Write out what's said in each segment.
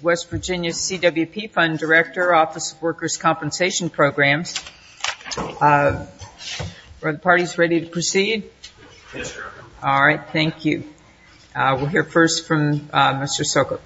West Virginia CWP Fund Director, Office of Workers' Compensation Programs. Are the parties ready to proceed? Yes, Your Honor. All right, thank you. We'll hear first from Mr. Sokup.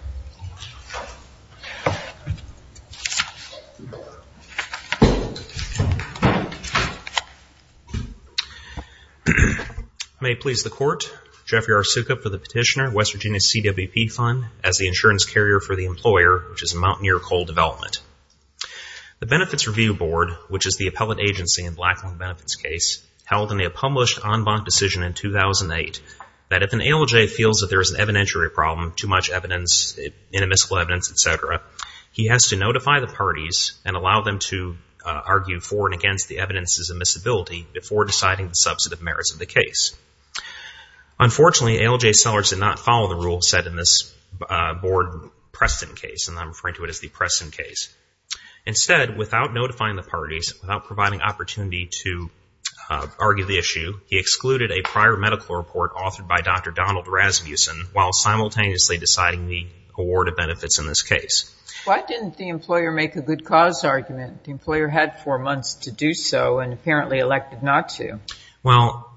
May it please the Court, Jeffrey R. Sokup for the petitioner, West Virginia CWP Fund. As the insurance carrier for the employer, which is Mountaineer Coal Development. The benefits review board, which is the appellate agency in Blackland Benefits case, held in a published en banc decision in 2008 that if an ALJ feels that there is an evidentiary problem, too much evidence, inadmissible evidence, etc., he has to notify the parties and allow them to argue for and against the evidences admissibility before deciding the substantive merits of the case. Unfortunately, ALJ sellers did not follow the rule set in this board Preston case, and I'm referring to it as the Preston case. Instead, without notifying the parties, without providing opportunity to argue the issue, he excluded a prior medical report authored by Dr. Donald Rasmussen while simultaneously deciding the award of benefits in this case. Why didn't the employer make a good cause argument? The employer had four months to do so and apparently elected not to. Well,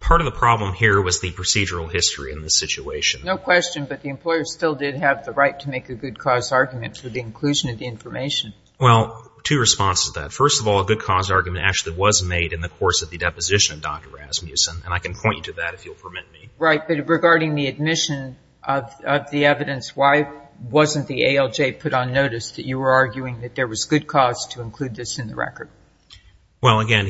part of the problem here was the procedural history in this situation. No question, but the employer still did have the right to make a good cause argument for the inclusion of the information. Well, two responses to that. First of all, a good cause argument actually was made in the course of the deposition of Dr. Rasmussen, and I can point you to that if you'll permit me. Right, but regarding the admission of the evidence, why wasn't the ALJ put on notice that you were arguing that there was good cause to include this in the record? Well, again,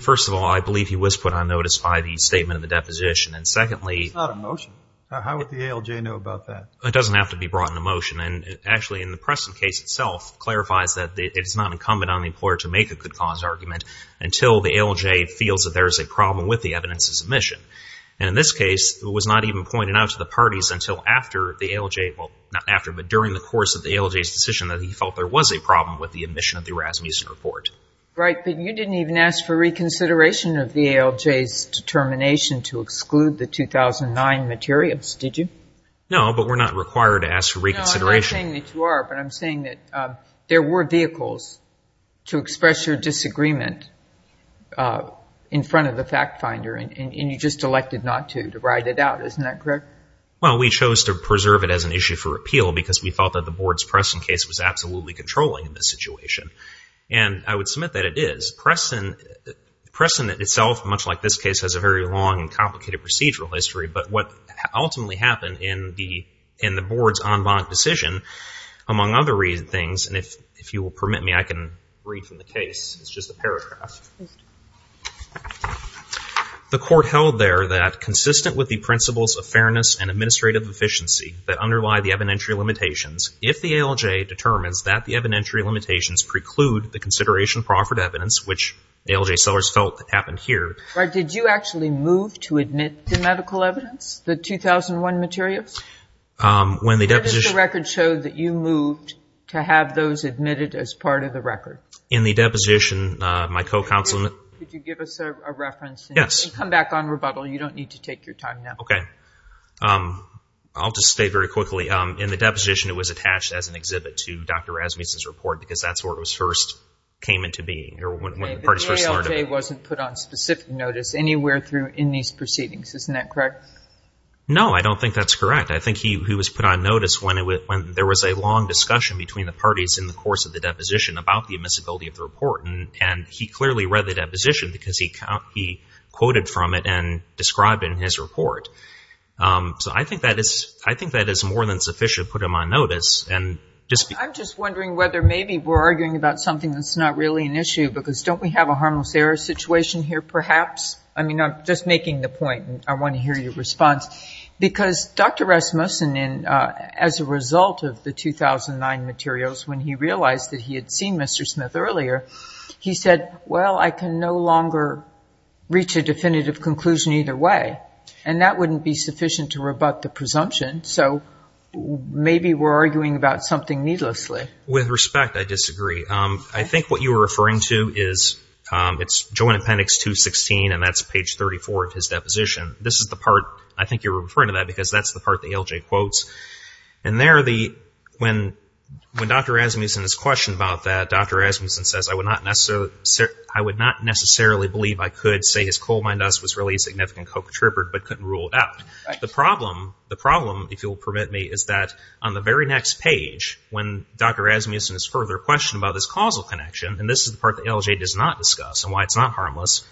first of all, I believe he was put on notice by the statement of the deposition. And secondly, It's not a motion. How would the ALJ know about that? It doesn't have to be brought into motion. And actually, in the Preston case itself, it clarifies that it's not incumbent on the employer to make a good cause argument until the ALJ feels that there's a problem with the evidence's admission. And in this case, it was not even pointed out to the parties until after the ALJ, well, not after, but during the course of the ALJ's decision that he felt there was a problem with the admission of the Rasmussen report. Right, but you didn't even ask for reconsideration of the ALJ's determination to exclude the 2009 materials, did you? No, but we're not required to ask for reconsideration. No, I'm not saying that you are, but I'm saying that there were vehicles to express your disagreement in front of the fact finder, and you just elected not to, to ride it out. Isn't that correct? Well, we chose to preserve it as an issue for appeal because we thought that the board's Preston case was absolutely controlling in this situation. And I would submit that it is. Preston itself, much like this case, has a very long and complicated procedural history. But what ultimately happened in the board's en banc decision, among other things, and if you will permit me, I can read from the case. It's just a paragraph. The court held there that consistent with the principles of fairness and administrative efficiency that underlie the evidentiary limitations, if the ALJ determines that the evidentiary limitations preclude the consideration of proffered evidence, which the ALJ sellers felt that happened here. But did you actually move to admit the medical evidence, the 2001 materials? When the deposition... When did the record show that you moved to have those admitted as part of the record? In the deposition, my co-counsel... Could you give us a reference? Yes. And come back on rebuttal. You don't need to take your time now. Okay. I'll just state very quickly. In the deposition, it was attached as an exhibit to Dr. Rasmussen's report because that's where it was first came into being, or when the parties first learned about it. The ALJ wasn't put on specific notice anywhere through in these proceedings. Isn't that correct? No, I don't think that's correct. I think he was put on notice when there was a long discussion between the parties in the course of the deposition about the admissibility of the report. And he clearly read the deposition because he quoted from it and described it in his report. So I think that is more than sufficient to put him on notice. I'm just wondering whether maybe we're arguing about something that's not really an issue because don't we have a harmless error situation here perhaps? I mean, I'm just making the point and I want to hear your response. Because Dr. Rasmussen, as a result of the 2009 materials, when he realized that he had seen Mr. Smith earlier, he said, well, I can no longer reach a definitive conclusion either way. And that wouldn't be sufficient to rebut the presumption. So maybe we're arguing about something needlessly. With respect, I disagree. I think what you were referring to is, it's Joint Appendix 216, and that's page 34 of his deposition. This is the part I think you're referring to that because that's the part that ALJ quotes. And there, when Dr. Rasmussen is questioned about that, Dr. Rasmussen says, I would not necessarily believe I could say his coal mine dust was really a significant co-contributor but couldn't rule it out. The problem, the problem, if you'll permit me, is that on the very next page, when Dr. Rasmussen is further questioned about this causal connection, and this is the part that ALJ does not discuss and why it's not harmless,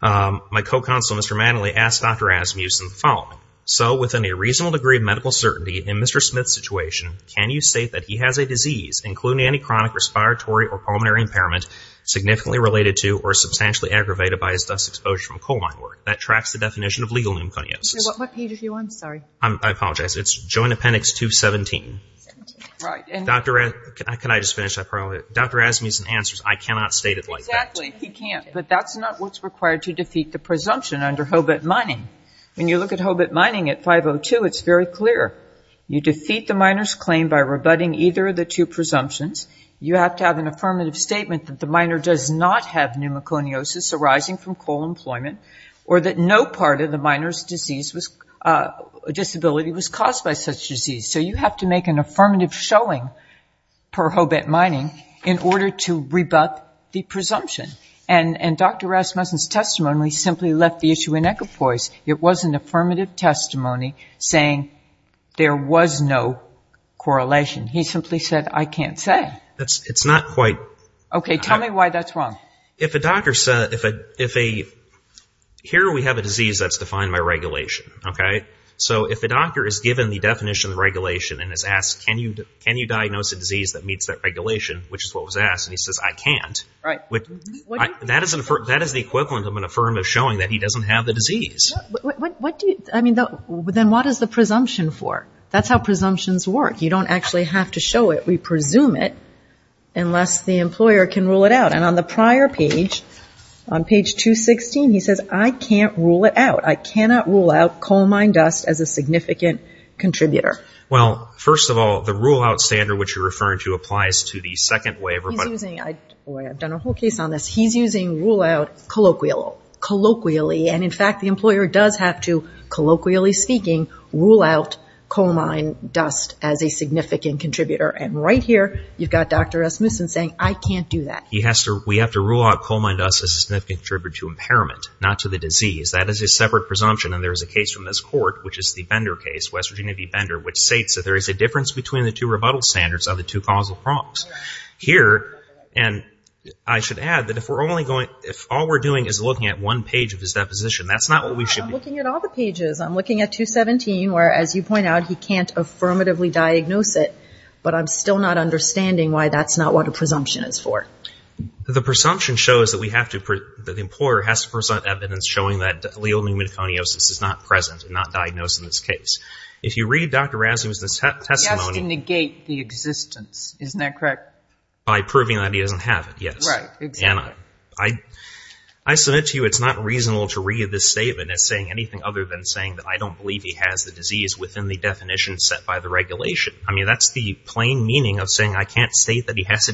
my co-counsel, Mr. Manley, asked Dr. Rasmussen the following. So within a reasonable degree of medical certainty in Mr. Smith's situation, can you state that he has a disease including any chronic respiratory or pulmonary impairment significantly related to or substantially aggravated by his dust exposure from coal mine work that tracks the definition of legal pneumoconiosis? What page are you on? Sorry. I apologize. It's Joint Appendix 217. Right. And Dr. Rasmussen, can I just finish that part of it? Dr. Rasmussen answers, I cannot state it like that. Exactly. He can't. But that's not what's required to defeat the presumption under Hobit Mining. When you look at Hobit Mining at 502, it's very clear. You defeat the miner's claim by rebutting either of the two presumptions. You have to have an affirmative statement that the miner does not have pneumoconiosis arising from coal employment or that no part of the miner's disability was caused by such disease. So you have to make an affirmative showing per Hobit Mining in order to rebut the presumption. And Dr. Rasmussen's testimony simply left the issue in equipoise. It was an affirmative testimony saying there was no correlation. He simply said, I can't say. That's not quite. Okay. Tell me why that's wrong. If a doctor said, if a, if a, here we have a disease that's defined by regulation. Okay. So if a doctor is given the definition of regulation and is asked, can you, can you diagnose a disease that meets that regulation? Which is what was asked. And he says, I can't. Right. That is the equivalent of an affirmative showing that he doesn't have the disease. I mean, then what is the presumption for? That's how presumptions work. You don't actually have to show it. We presume it unless the employer can rule it out. And on the prior page, on page 216, he says, I can't rule it out. I cannot rule out coal mine dust as a significant contributor. Well, first of all, the rule out standard, which you're referring to applies to the second waiver. He's using, I've done a whole case on this. He's using rule out colloquial, colloquially. And in fact, the employer does have to, colloquially speaking, rule out coal mine dust as a significant contributor. And right here, you've got Dr. Rasmussen saying, I can't do that. He has to, we have to rule out coal mine dust as a significant contributor to impairment, not to the disease. That is a separate presumption. And there is a case from this court, which is the Bender case, West Virginia v. Bender, which states that there is a difference between the two rebuttal standards on the two causal prompts. Here, and I should add that if we're only going, if all we're doing is looking at one page of his deposition, that's not what we should be. I'm looking at all the pages. I'm looking at 217, where as you point out, he can't affirmatively diagnose it, but I'm still not understanding why that's not what a presumption is for. The presumption shows that we have to, that the employer has to present evidence showing that allele pneumoconiosis is not present and not diagnosed in this case. If you read Dr. Rasmussen's testimony- He has to negate the existence. Isn't that correct? By proving that he doesn't have it. Yes. Right, exactly. I, I submit to you, it's not reasonable to read this statement as saying anything other than saying that I don't believe he has the disease within the definition set by the regulation. I mean, that's the plain meaning of saying, I can't state that he has a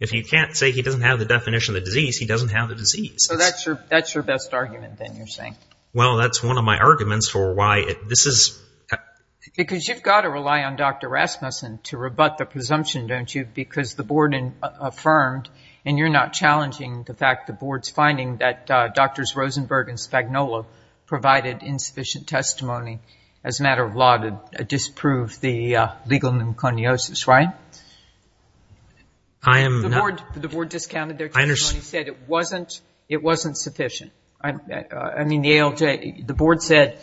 If you can't say he doesn't have the definition of the disease, he doesn't have the disease. So that's your, that's your best argument then you're saying? Well, that's one of my arguments for why this is- Because you've got to rely on Dr. Rasmussen to rebut the presumption, don't you? Because the board affirmed, and you're not challenging the fact the board's finding that Drs. Rosenberg and Spagnola provided insufficient testimony as a matter of law to disprove the legal pneumoconiosis, right? I am not- The board, the board discounted their testimony and said it wasn't, it wasn't sufficient. I mean, the ALJ, the board said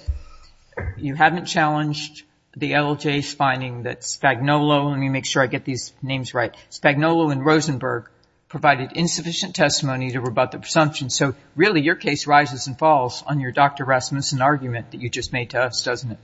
you haven't challenged the ALJ's finding that Spagnola, let me make sure I get these names right, Spagnola and Rosenberg provided insufficient testimony to rebut the presumption. So really your case rises and falls on your Dr. Rasmussen argument that you just made to us, doesn't it?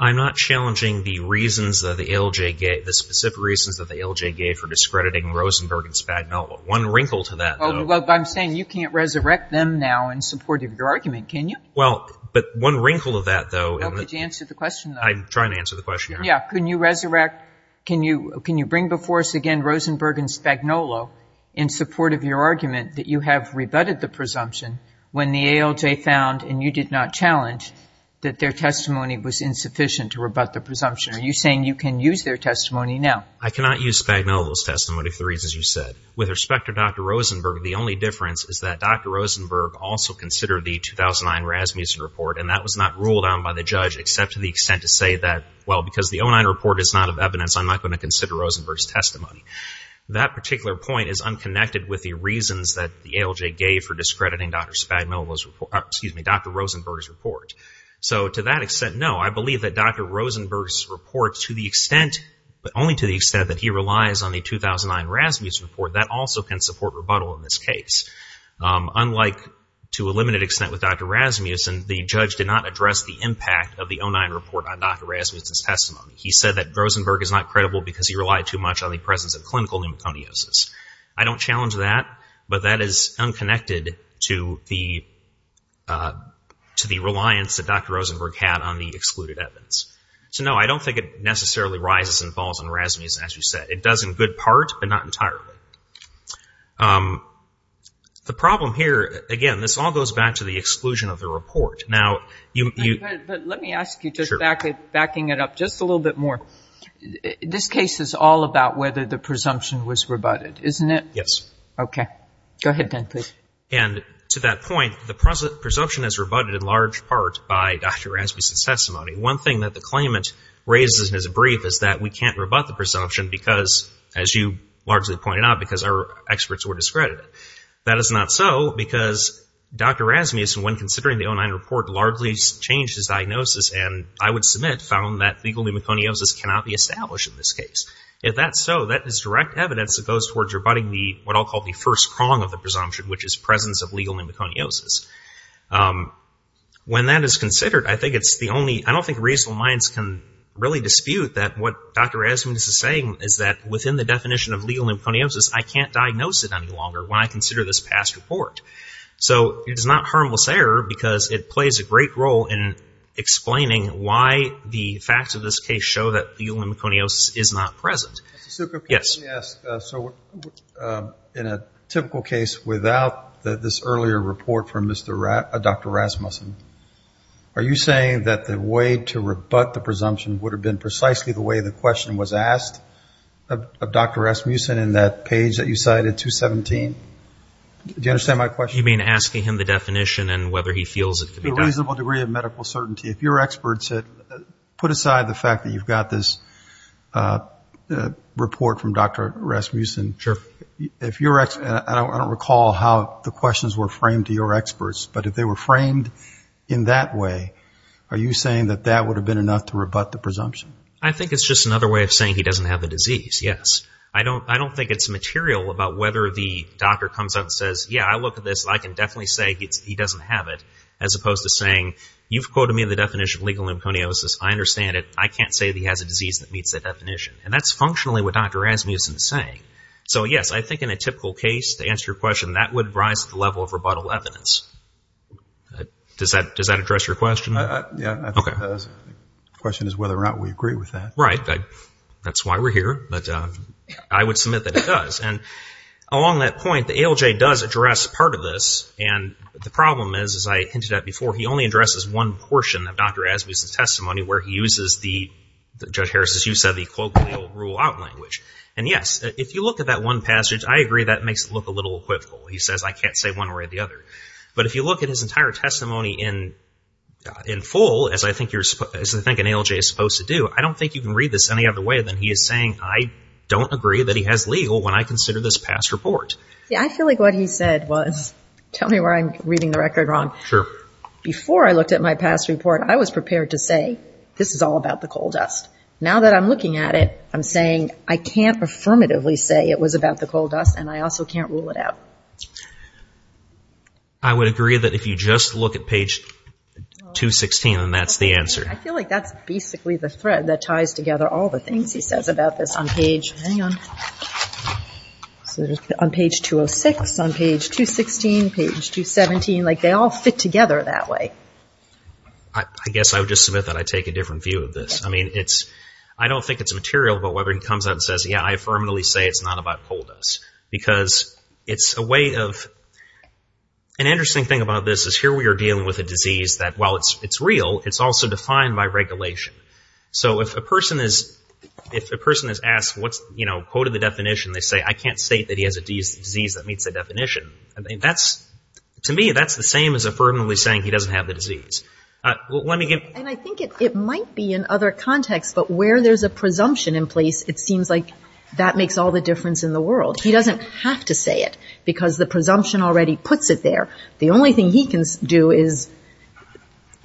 I'm not challenging the reasons that the ALJ gave, the specific reasons that the ALJ gave for discrediting Rosenberg and Spagnola. One wrinkle to that- Well, I'm saying you can't resurrect them now in support of your argument, can you? Well, but one wrinkle of that, though- Well, could you answer the question, though? I'm trying to answer the question, Your Honor. Yeah. Can you resurrect, can you bring before us again Rosenberg and Spagnola in support of your argument that you have rebutted the presumption when the ALJ found, and you did not challenge, that their testimony was insufficient to rebut the presumption? Are you saying you can use their testimony now? I cannot use Spagnola's testimony for the reasons you said. With respect to Dr. Rosenberg, the only difference is that Dr. Rosenberg also considered the 2009 Rasmussen report, and that was not ruled on by the judge except to the extent to say that, well, because the 09 report is not of evidence, I'm not going to consider Rosenberg's testimony. That particular point is unconnected with the reasons that the ALJ gave for discrediting Dr. Spagnola's report, excuse me, Dr. Rosenberg's report. So to that extent, no, I believe that Dr. Rosenberg's report to the extent, but only to the extent that he relies on the 2009 Rasmussen report, that also can support rebuttal in this case. Unlike to a limited extent with Dr. Rasmussen, the judge did not address the impact of the 09 report on Dr. Rasmussen's testimony. He said that Rosenberg is not credible because he relied too much on the presence of clinical pneumoconiosis. I don't challenge that, but that is unconnected to the reliance that Dr. Rosenberg had on the excluded evidence. So, no, I don't think it necessarily rises and falls on Rasmussen, as you said. It does in good part, but not entirely. The problem here, again, this all goes back to the exclusion of the report. Now, you you But let me ask you, just backing it up just a little bit more, this case is all about whether the presumption was rebutted, isn't it? Yes. Okay. Go ahead, then, please. And to that point, the presumption is rebutted in large part by Dr. Rasmussen's testimony. One thing that the claimant raises in his brief is that we can't rebut the presumption because, as you largely pointed out, because our experts were discredited. That is not so because Dr. Rasmussen, when considering the 09 report, largely changed his diagnosis and, I would submit, found that legal pneumoconiosis cannot be established in this case. If that's so, that is direct evidence that goes towards rebutting the, what I'll call the first prong of the presumption, which is presence of legal pneumoconiosis. When that is considered, I think it's the only, I don't think reasonable minds can really dispute that what Dr. Rasmussen is saying is that within the definition of legal pneumoconiosis, I can't diagnose it any longer when I consider this past report. So it is not harmless error because it plays a great role in explaining why the facts of this case show that legal pneumoconiosis is not present. Mr. Sukup, can I ask, so in a typical case without this earlier report from Dr. Rasmussen, are you saying that the way to rebut the presumption would have been precisely the way the question was asked of Dr. Rasmussen in that page that you cited, 217? Do you understand my question? You mean asking him the definition and whether he feels it could be done? A reasonable degree of medical certainty. If your experts had put aside the fact that you've got this report from Dr. Rasmussen, if your, and I don't recall how the questions were framed to your experts, but if they were framed in that way, are you saying that that would have been enough to rebut the presumption? I think it's just another way of saying he doesn't have the disease, yes. I don't think it's material about whether the doctor comes out and says, yeah, I look at this, I can definitely say he doesn't have it, as opposed to saying you've quoted me the definition of legal pneumoconiosis, I understand it, I can't say that he has a disease that meets that definition. And that's functionally what Dr. Rasmussen is saying. So yes, I think in a typical case, to answer your question, that would rise to the level of rebuttal evidence. Does that address your question? Yeah, I think the question is whether or not we agree with that. Right, that's why we're here, but I would submit that it does. And along that point, the ALJ does address part of this, and the problem is, as I hinted at before, he only addresses one portion of Dr. Rasmussen's testimony where he uses the, Judge Harris, as you said, the colloquial rule out language. And yes, if you look at that one passage, I agree that makes it look a little equivocal. He says, I can't say one way or the other. But if you look at his entire testimony in full, as I think an ALJ is supposed to do, I don't think you can read this any other way than he is saying, I don't agree that he has legal when I consider this past report. Yeah, I feel like what he said was, tell me where I'm reading the record wrong. Sure. Before I looked at my past report, I was prepared to say, this is all about the coal dust. Now that I'm looking at it, I'm saying, I can't affirmatively say it was about the coal dust, and I also can't rule it out. I would agree that if you just look at page 216, then that's the answer. I feel like that's basically the thread that ties together all the things he says about this on page, hang on, on page 206, on page 216, page 217. Like, they all fit together that way. I guess I would just submit that I take a different view of this. I mean, it's, I don't think it's material, but Weber comes out and says, yeah, I affirmatively say it's not about coal dust. Because it's a way of, an interesting thing about this is here we are dealing with a disease that, while it's real, it's also defined by regulation. So if a person is, if a person is asked what's, you know, quote of the definition, they say, I can't say that he has a disease that meets the definition. I mean, that's, to me, that's the same as affirmatively saying he doesn't have the disease. Let me get. And I think it might be in other contexts, but where there's a presumption in place, it seems like that makes all the difference in the world. He doesn't have to say it because the presumption already puts it there. The only thing he can do is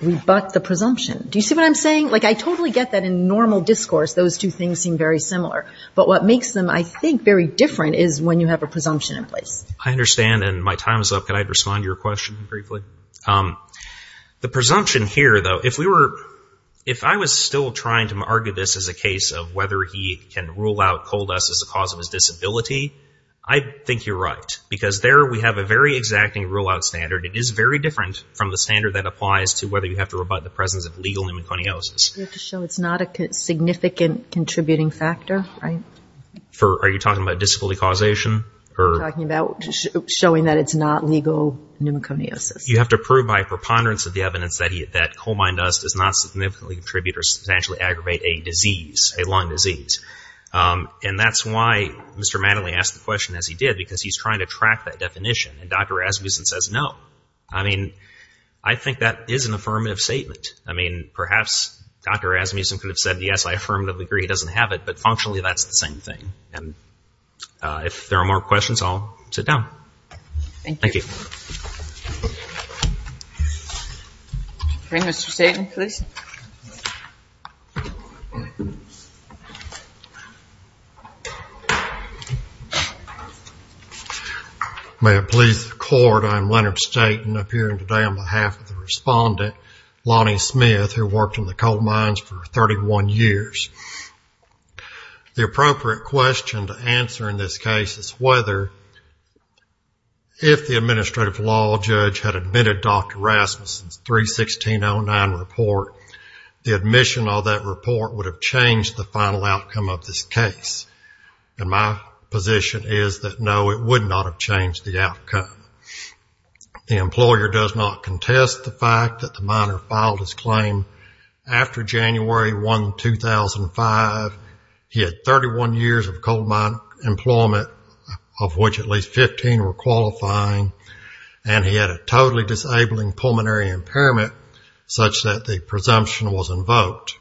rebut the presumption. Do you see what I'm saying? Like, I totally get that in normal discourse, those two things seem very similar. But what makes them, I think, very different is when you have a presumption in place. I understand. And my time is up. Can I respond to your question briefly? The presumption here, though, if we were, if I was still trying to argue this as a case of whether he can rule out coal dust as the cause of his disability, I think you're right. Because there we have a very exacting rule-out standard. It is very different from the standard that applies to whether you have to rebut the presence of legal pneumoconiosis. You have to show it's not a significant contributing factor, right? Are you talking about disability causation? I'm talking about showing that it's not legal pneumoconiosis. You have to prove by preponderance of the evidence that coal mine dust does not significantly contribute or substantially aggravate a disease, a lung disease. And that's why Mr. Mattingly asked the question, as he did, because he's trying to track that definition. And Dr. Rasmussen says, no. I mean, I think that is an affirmative statement. I mean, perhaps Dr. Rasmussen could have said, yes, I affirmatively agree he doesn't have it. But functionally, that's the same thing. And if there are more questions, I'll sit down. Thank you. Okay, Mr. Staten, please. May it please the court. I'm Leonard Staten, appearing today on behalf of the respondent, Lonnie Smith, who worked in the coal mines for 31 years. The appropriate question to answer in this case is whether, if the administrative law judge had admitted Dr. Rasmussen's 3-1609 report, the admission of that report would have changed the final outcome of this case. And my position is that no, it would not have changed the outcome. The employer does not contest the fact that the miner filed his claim after January 1, 2005. He had 31 years of coal mine employment, of which at least 15 were qualifying. And he had a totally disabling pulmonary impairment, such that the presumption was invoked.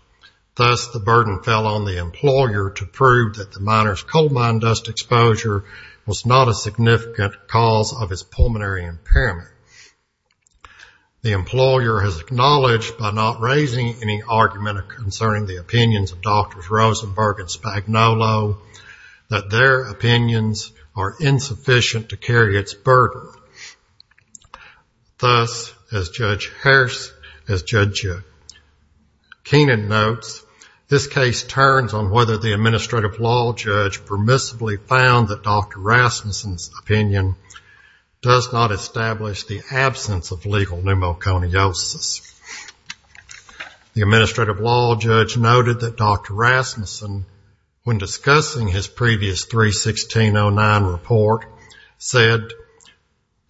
Thus, the burden fell on the employer to prove that the miner's coal mine dust exposure was not a significant cause of his pulmonary impairment. The employer has acknowledged by not raising any argument concerning the opinions of Drs. Rosenberg and Spagnuolo, that their opinions are insufficient to carry its burden. Thus, as Judge Keenan notes, this case turns on whether the administrative law judge permissively found that Dr. Rasmussen's opinion does not establish the absence of legal pneumoconiosis. The administrative law judge noted that Dr. Rasmussen, when discussing his previous 3-1609 report, said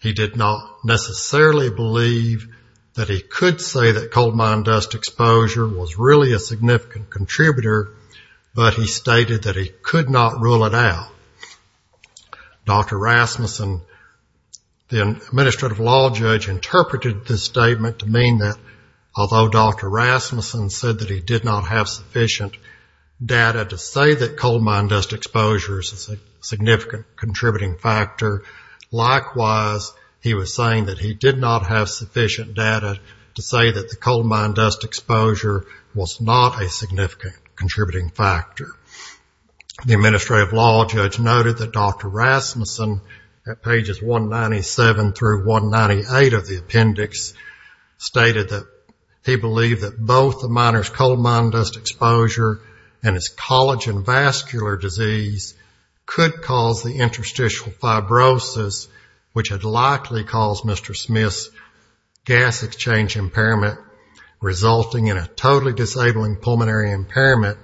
he did not necessarily believe that he could say that coal mine dust exposure was really a significant contributor, but he stated that he could not rule it out. Dr. Rasmussen, the administrative law judge, interpreted this statement to mean that although Dr. Rasmussen said that he did not have sufficient data to say that coal mine dust exposure is a significant contributing factor, likewise, he was saying that he did not have sufficient data to say that the coal mine dust exposure was not a significant contributing factor. The administrative law judge noted that Dr. Rasmussen, at pages 197 through 198 of the appendix, stated that he believed that both the miner's coal mine dust exposure and his collagen vascular disease could cause the interstitial fibrosis, which had likely caused Mr. Smith's gas exchange impairment, resulting in a totally disabling pulmonary impairment,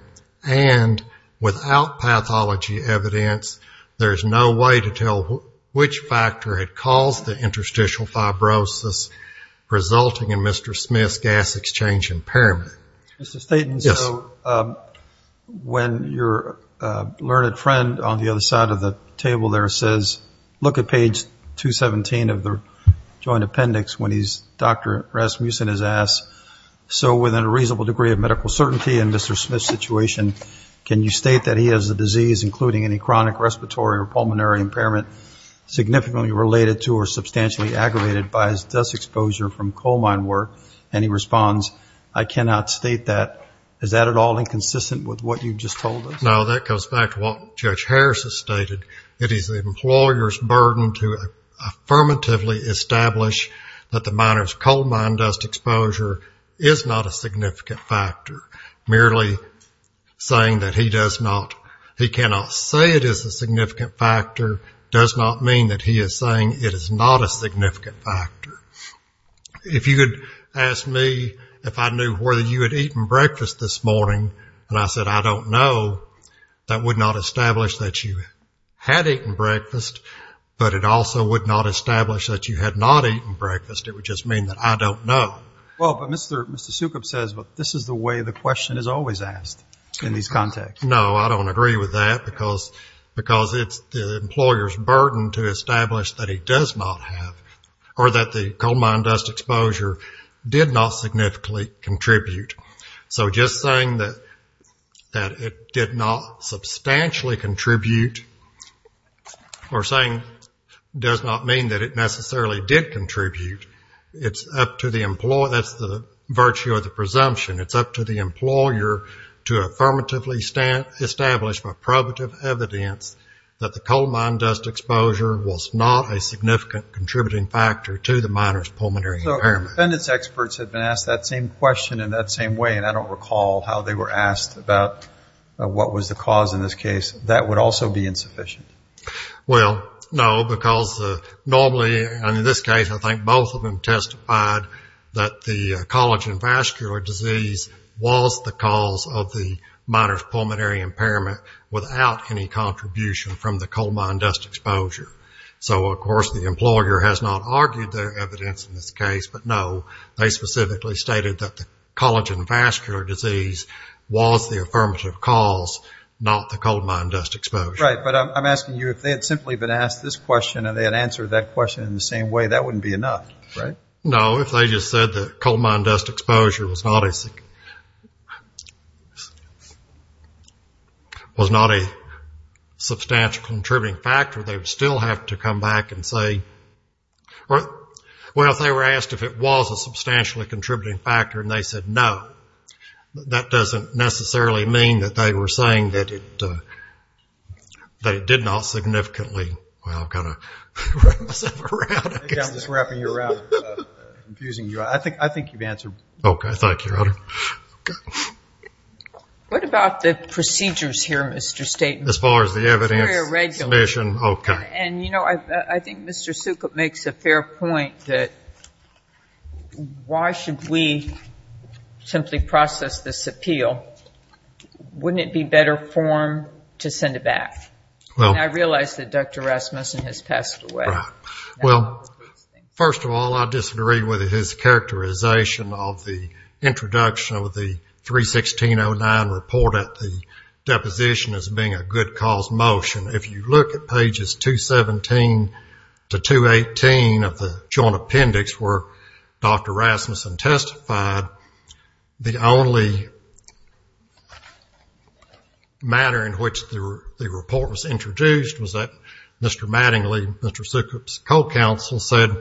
and without pathology evidence, there is no way to tell which factor had caused the interstitial fibrosis, resulting in Mr. Smith's gas exchange impairment. Mr. Staton, so when your learned friend on the other side of the table there says, look at page 217 of the joint appendix when Dr. Rasmussen is asked, so within a reasonable degree of medical certainty in Mr. Smith's situation, can you state that he has a disease, including any significantly related to or substantially aggravated by his dust exposure from coal mine work? And he responds, I cannot state that. Is that at all inconsistent with what you just told us? No, that goes back to what Judge Harris has stated. It is the employer's burden to affirmatively establish that the miner's coal mine dust exposure is not a significant factor. Merely saying that he does not, he cannot say it is a significant factor does not mean that he is saying it is not a significant factor. If you could ask me if I knew whether you had eaten breakfast this morning, and I said, I don't know, that would not establish that you had eaten breakfast, but it also would not establish that you had not eaten breakfast. It would just mean that I don't know. Well, but Mr. Sukup says this is the way the question is always asked in these contexts. No, I don't agree with that because it's the employer's burden to establish that he does not have, or that the coal mine dust exposure did not significantly contribute. So just saying that it did not substantially contribute, or saying does not mean that it necessarily did contribute, it's up to the employer, that's the virtue of the presumption. It's up to the employer to affirmatively establish by probative evidence that the coal mine dust exposure was not a significant contributing factor to the miner's pulmonary impairment. Defendants' experts have been asked that same question in that same way, and I don't recall how they were asked about what was the cause in this case. That would also be insufficient. Well, no, because normally, and in this case, I think both of them was the cause of the miner's pulmonary impairment without any contribution from the coal mine dust exposure. So, of course, the employer has not argued their evidence in this case, but no, they specifically stated that the collagen vascular disease was the affirmative cause, not the coal mine dust exposure. Right, but I'm asking you, if they had simply been asked this question and they had answered that question in the same way, that wouldn't be enough, right? No, if they just said that coal mine dust exposure was not a substantial contributing factor, they would still have to come back and say, well, if they were asked if it was a substantially contributing factor and they said no, that doesn't necessarily mean that they were saying that it did not significantly, well, kind of wrap myself around. I'm just wrapping you around, confusing you. I think you've answered. Okay, thank you, Your Honor. What about the procedures here, Mr. Staton? As far as the evidence submission, okay. And, you know, I think Mr. Sukup makes a fair point that why should we simply process this appeal? Wouldn't it be better for him to send it back? Well, I realize that Dr. Rasmussen has passed away. Well, first of all, I disagree with his characterization of the introduction of the 316.09 report at the deposition as being a good cause motion. If you look at pages 217 to 218 of the Joint Appendix where Dr. Rasmussen testified, the only matter in which the report was introduced was that Mr. Sukup's co-counsel said-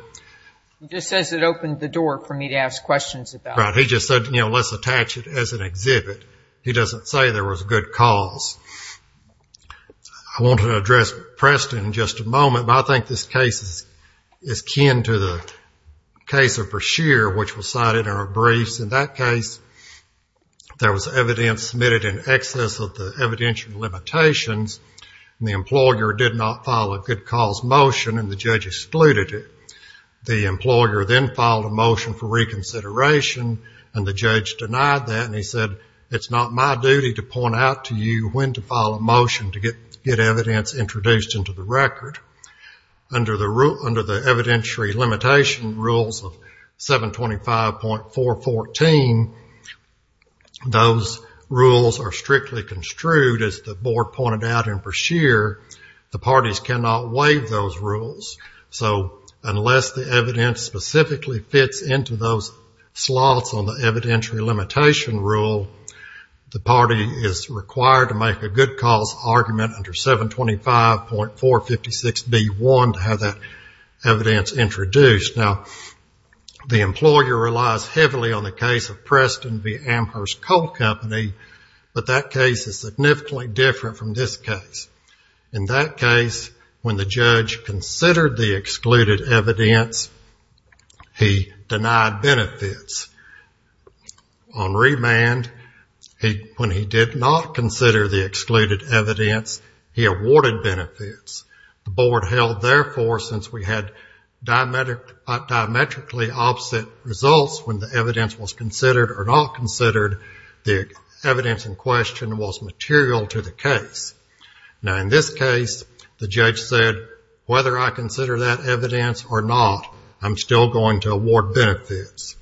He just says it opened the door for me to ask questions about. Right. He just said, you know, let's attach it as an exhibit. He doesn't say there was a good cause. I want to address Preston in just a moment, but I think this case is kin to the case of Brashear, which was cited in our briefs. In that case, there was evidence submitted in excess of the evidential limitations, and the employer did not file a good cause motion, and the judge excluded it. The employer then filed a motion for reconsideration, and the judge denied that, and he said, it's not my duty to point out to you when to file a motion to get evidence introduced into the record. Under the evidentiary limitation rules of 725.414, those rules are construed, as the board pointed out in Brashear, the parties cannot waive those rules, so unless the evidence specifically fits into those slots on the evidentiary limitation rule, the party is required to make a good cause argument under 725.456B1 to have that evidence introduced. Now, the employer relies heavily on the case of Preston v. Brashear, and that case is significantly different from this case. In that case, when the judge considered the excluded evidence, he denied benefits. On remand, when he did not consider the excluded evidence, he awarded benefits. The board held, therefore, since we had diametrically opposite results when the evidence was considered or not considered, the evidence in question was material to the case. Now, in this case, the judge said, whether I consider that evidence or not, I'm still going to award benefits.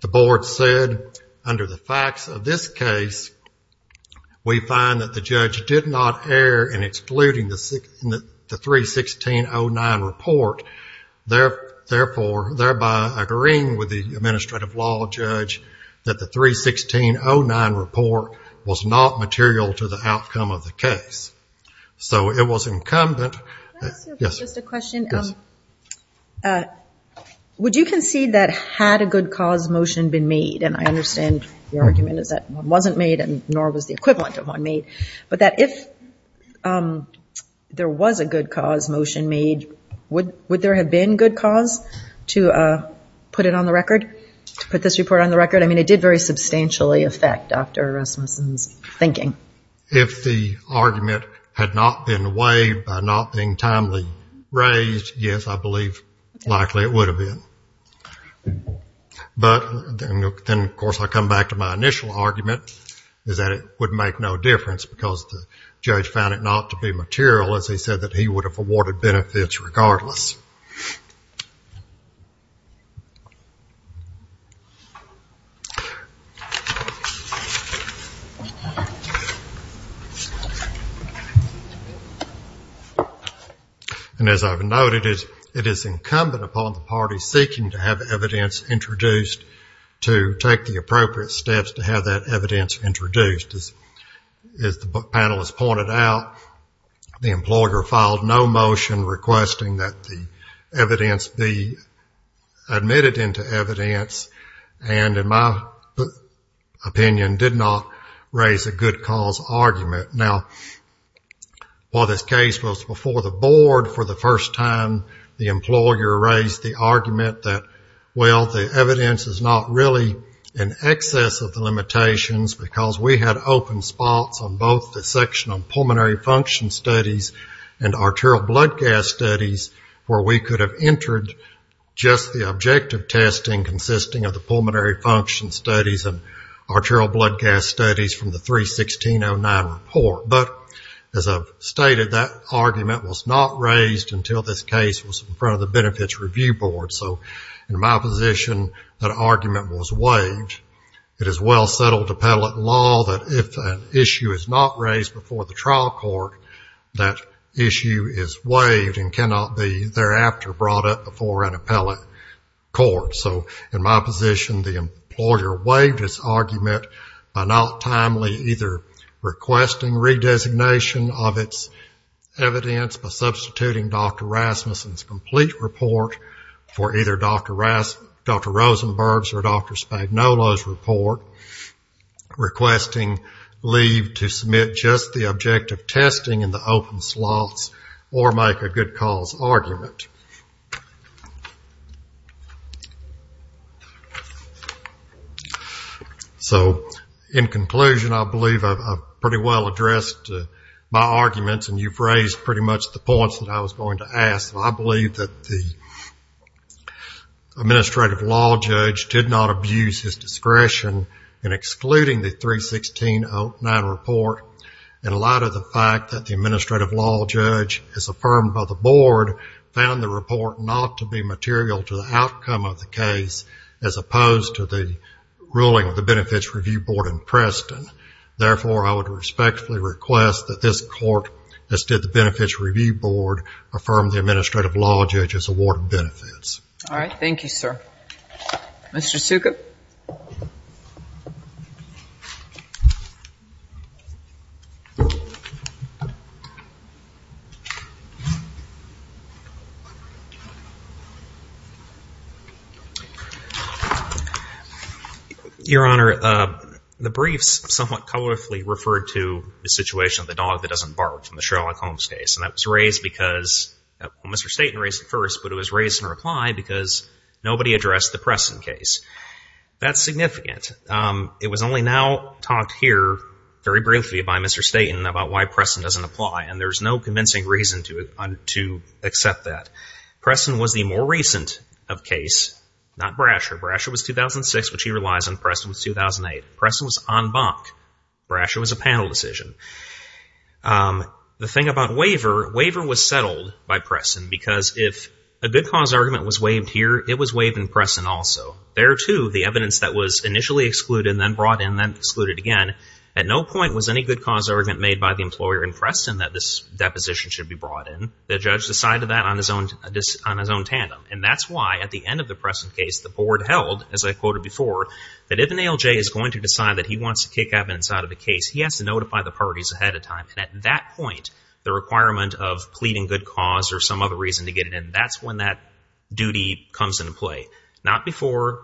The board said, under the facts of this case, we find that the judge did not err in excluding the 316.09 report, thereby agreeing with the administrative law judge that the 316.09 report was not material to the outcome of the case. So it was incumbent. Can I ask you just a question? Yes. Would you concede that had a good cause motion been made, and I understand your argument is that one wasn't made and nor was the equivalent of one made, but that if there was a good cause motion made, would there have been good cause to put it on the record? To put this report on the record? I mean, it did very substantially affect Dr. Rasmussen's thinking. If the argument had not been waived by not being timely raised, yes, I believe likely it would have been. But then, of course, I come back to my initial argument, is that it would make no difference because the judge found it not to be material, as he said, that he would have awarded benefits regardless. And as I've noted, it is incumbent upon the parties seeking to have evidence introduced to take the appropriate steps to have that evidence introduced. As the panel has pointed out, the employer filed no motion requesting that the evidence be admitted into evidence and, in my opinion, did not raise a good cause argument. Now, while this case was before the board for the first time, the employer raised the argument that, well, the evidence is not really in excess of the limitations because we had open spots on both the section on pulmonary function studies and arterial blood gas studies where we could have entered just the objective testing consisting of the pulmonary function studies and arterial blood gas studies from the 3-1609 report. But, as I've stated, that argument was not raised until this case was in front of the benefits review board. So, in my position, that argument was waived. It is well settled to appellate law that if an issue is not raised before the trial court, that issue is waived and cannot be thereafter brought up before an appellate court. So, in my position, the employer waived its argument by not timely either requesting redesignation of its evidence by substituting Dr. Rasmussen's report for either Dr. Rosenberg's or Dr. Spagnuolo's report, requesting leave to submit just the objective testing in the open slots or make a good cause argument. So, in conclusion, I believe I've pretty well addressed my arguments and you've raised pretty much the points that I was going to ask. I believe that the administrative law judge did not abuse his discretion in excluding the 3-1609 report in light of the fact that the administrative law judge, as affirmed by the board, found the report not to be material to the outcome of the case as opposed to the ruling of the benefits review board in Preston. Therefore, I would respectfully request that this court, as did the benefits review board, affirm the administrative law judge's award of benefits. All right. Thank you, sir. Mr. Sukup? Your Honor, the briefs somewhat colorfully referred to the situation of the dog that doesn't bark from the Sherlock Holmes case. And that was raised because, well, Mr. Staten raised it first, but it was raised in reply because nobody addressed the Preston case. That's significant. It was only now talked here, very briefly, by Mr. Staten about why Preston doesn't apply. And there's no convincing reason to accept that. Preston was the more recent of case, not Brasher. Brasher was 2006, which he relies on. Preston was 2008. Preston was en banc. Brasher was a panel decision. The thing about waiver, waiver was settled by Preston because if a good cause argument was waived here, it was waived in Preston also. There too, the evidence that was initially excluded and then brought in, then excluded again. At no point was any good cause argument made by the employer in Preston that this deposition should be brought in. The judge decided that on his own tandem. And that's why at the end of the Preston case, the board held, as I quoted before, that if an ALJ is going to decide that he wants to kick evidence out of the case, he has to notify the parties ahead of time. And at that point, the requirement of pleading good cause or some other reason to get it in, that's when that duty comes into play. Not before,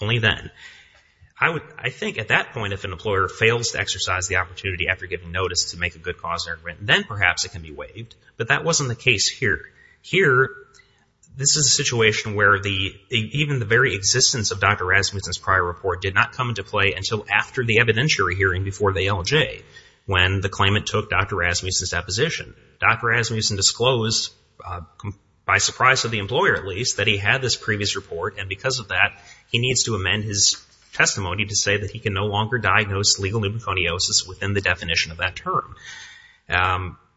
only then. I think at that point, if an employer fails to exercise the opportunity after giving notice to make a good cause argument, then perhaps it can be waived. But that wasn't the case here. Here, this is a situation where even the very existence of Dr. Rasmussen's prior report did not come into play until after the evidentiary hearing before the ALJ, when the claimant took Dr. Rasmussen's deposition. Dr. Rasmussen disclosed, by surprise of the employer at least, that he had this previous report. And because of that, he needs to amend his testimony to say that he can no longer diagnose legal pneumoconiosis within the definition of that term.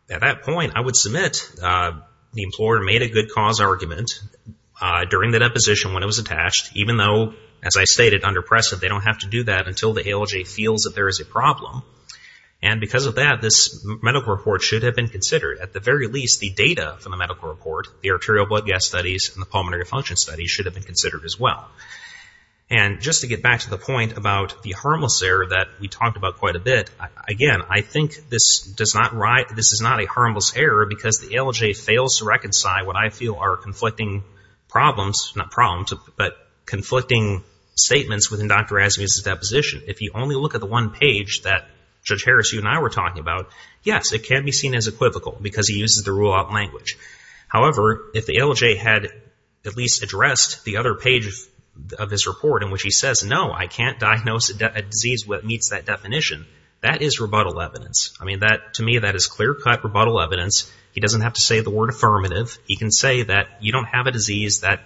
At that point, I would submit the employer made a good cause argument during the deposition when it was attached, even though, as I stated, under Preston, they don't have to do that until the ALJ feels that there is a problem. And because of that, this medical report should have been considered. At the very least, the data from the medical report, the arterial blood gas studies and the pulmonary function studies should have been considered as well. And just to get back to the point about the harmless error that we talked about quite a bit, again, I think this is not a harmless error because the ALJ fails to reconcile what I feel are conflicting problems, not problems, but conflicting statements within Dr. Rasmussen's position. If you only look at the one page that Judge Harris, you and I were talking about, yes, it can be seen as equivocal because he uses the rule-out language. However, if the ALJ had at least addressed the other page of his report in which he says, no, I can't diagnose a disease that meets that definition, that is rebuttal evidence. I mean, to me, that is clear-cut rebuttal evidence. He doesn't have to say the word affirmative. He can say that you don't have a disease that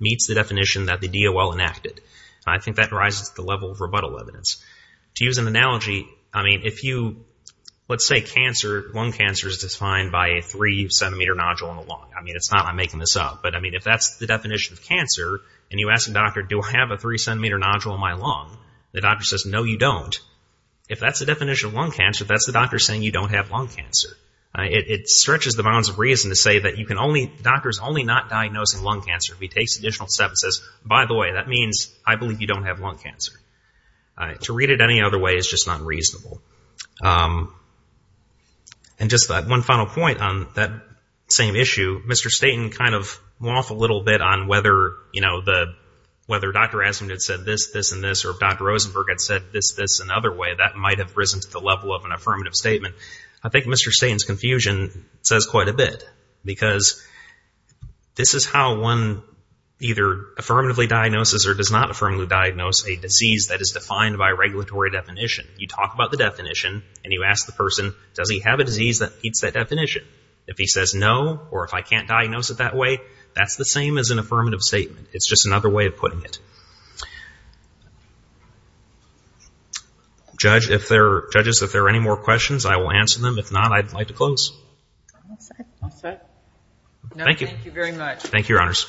meets the definition that the DOL enacted. I think that rises to the level of rebuttal evidence. To use an analogy, I mean, if you, let's say lung cancer is defined by a three-centimeter nodule in the lung. I mean, it's not, I'm making this up, but I mean, if that's the definition of cancer and you ask a doctor, do I have a three-centimeter nodule in my lung? The doctor says, no, you don't. If that's the definition of lung cancer, that's the doctor saying you don't have lung cancer. It stretches the bounds of reason to say that the doctor is only not diagnosing lung cancer. He takes an additional step and says, by the way, that means I believe you don't have lung cancer. To read it any other way is just not reasonable. And just that one final point on that same issue, Mr. Staten kind of waffled a little bit on whether, you know, the, whether Dr. Astman had said this, this, and this, or if Dr. Rosenberg had said this, this, and other way, that might have risen to the level of an affirmative statement. I think Mr. Staten's confusion says quite a bit because this is how one either affirmatively diagnoses or does not affirmatively diagnose a disease that is defined by a regulatory definition. You talk about the definition and you ask the person, does he have a disease that meets that definition? If he says no, or if I can't diagnose it that way, that's the same as an affirmative statement. It's just another way of putting it. Judge, if there are, judges, if there are any more questions, I will answer them. If not, I'd like to close. All set. Thank you. No, thank you very much. Thank you, Your Honors.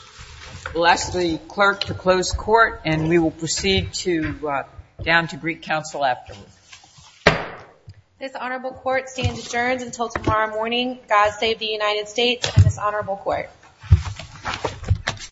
Bless the clerk to close court and we will proceed to, down to Greek Council afterwards. This honorable court stands adjourned until tomorrow morning. God save the United States and this honorable court.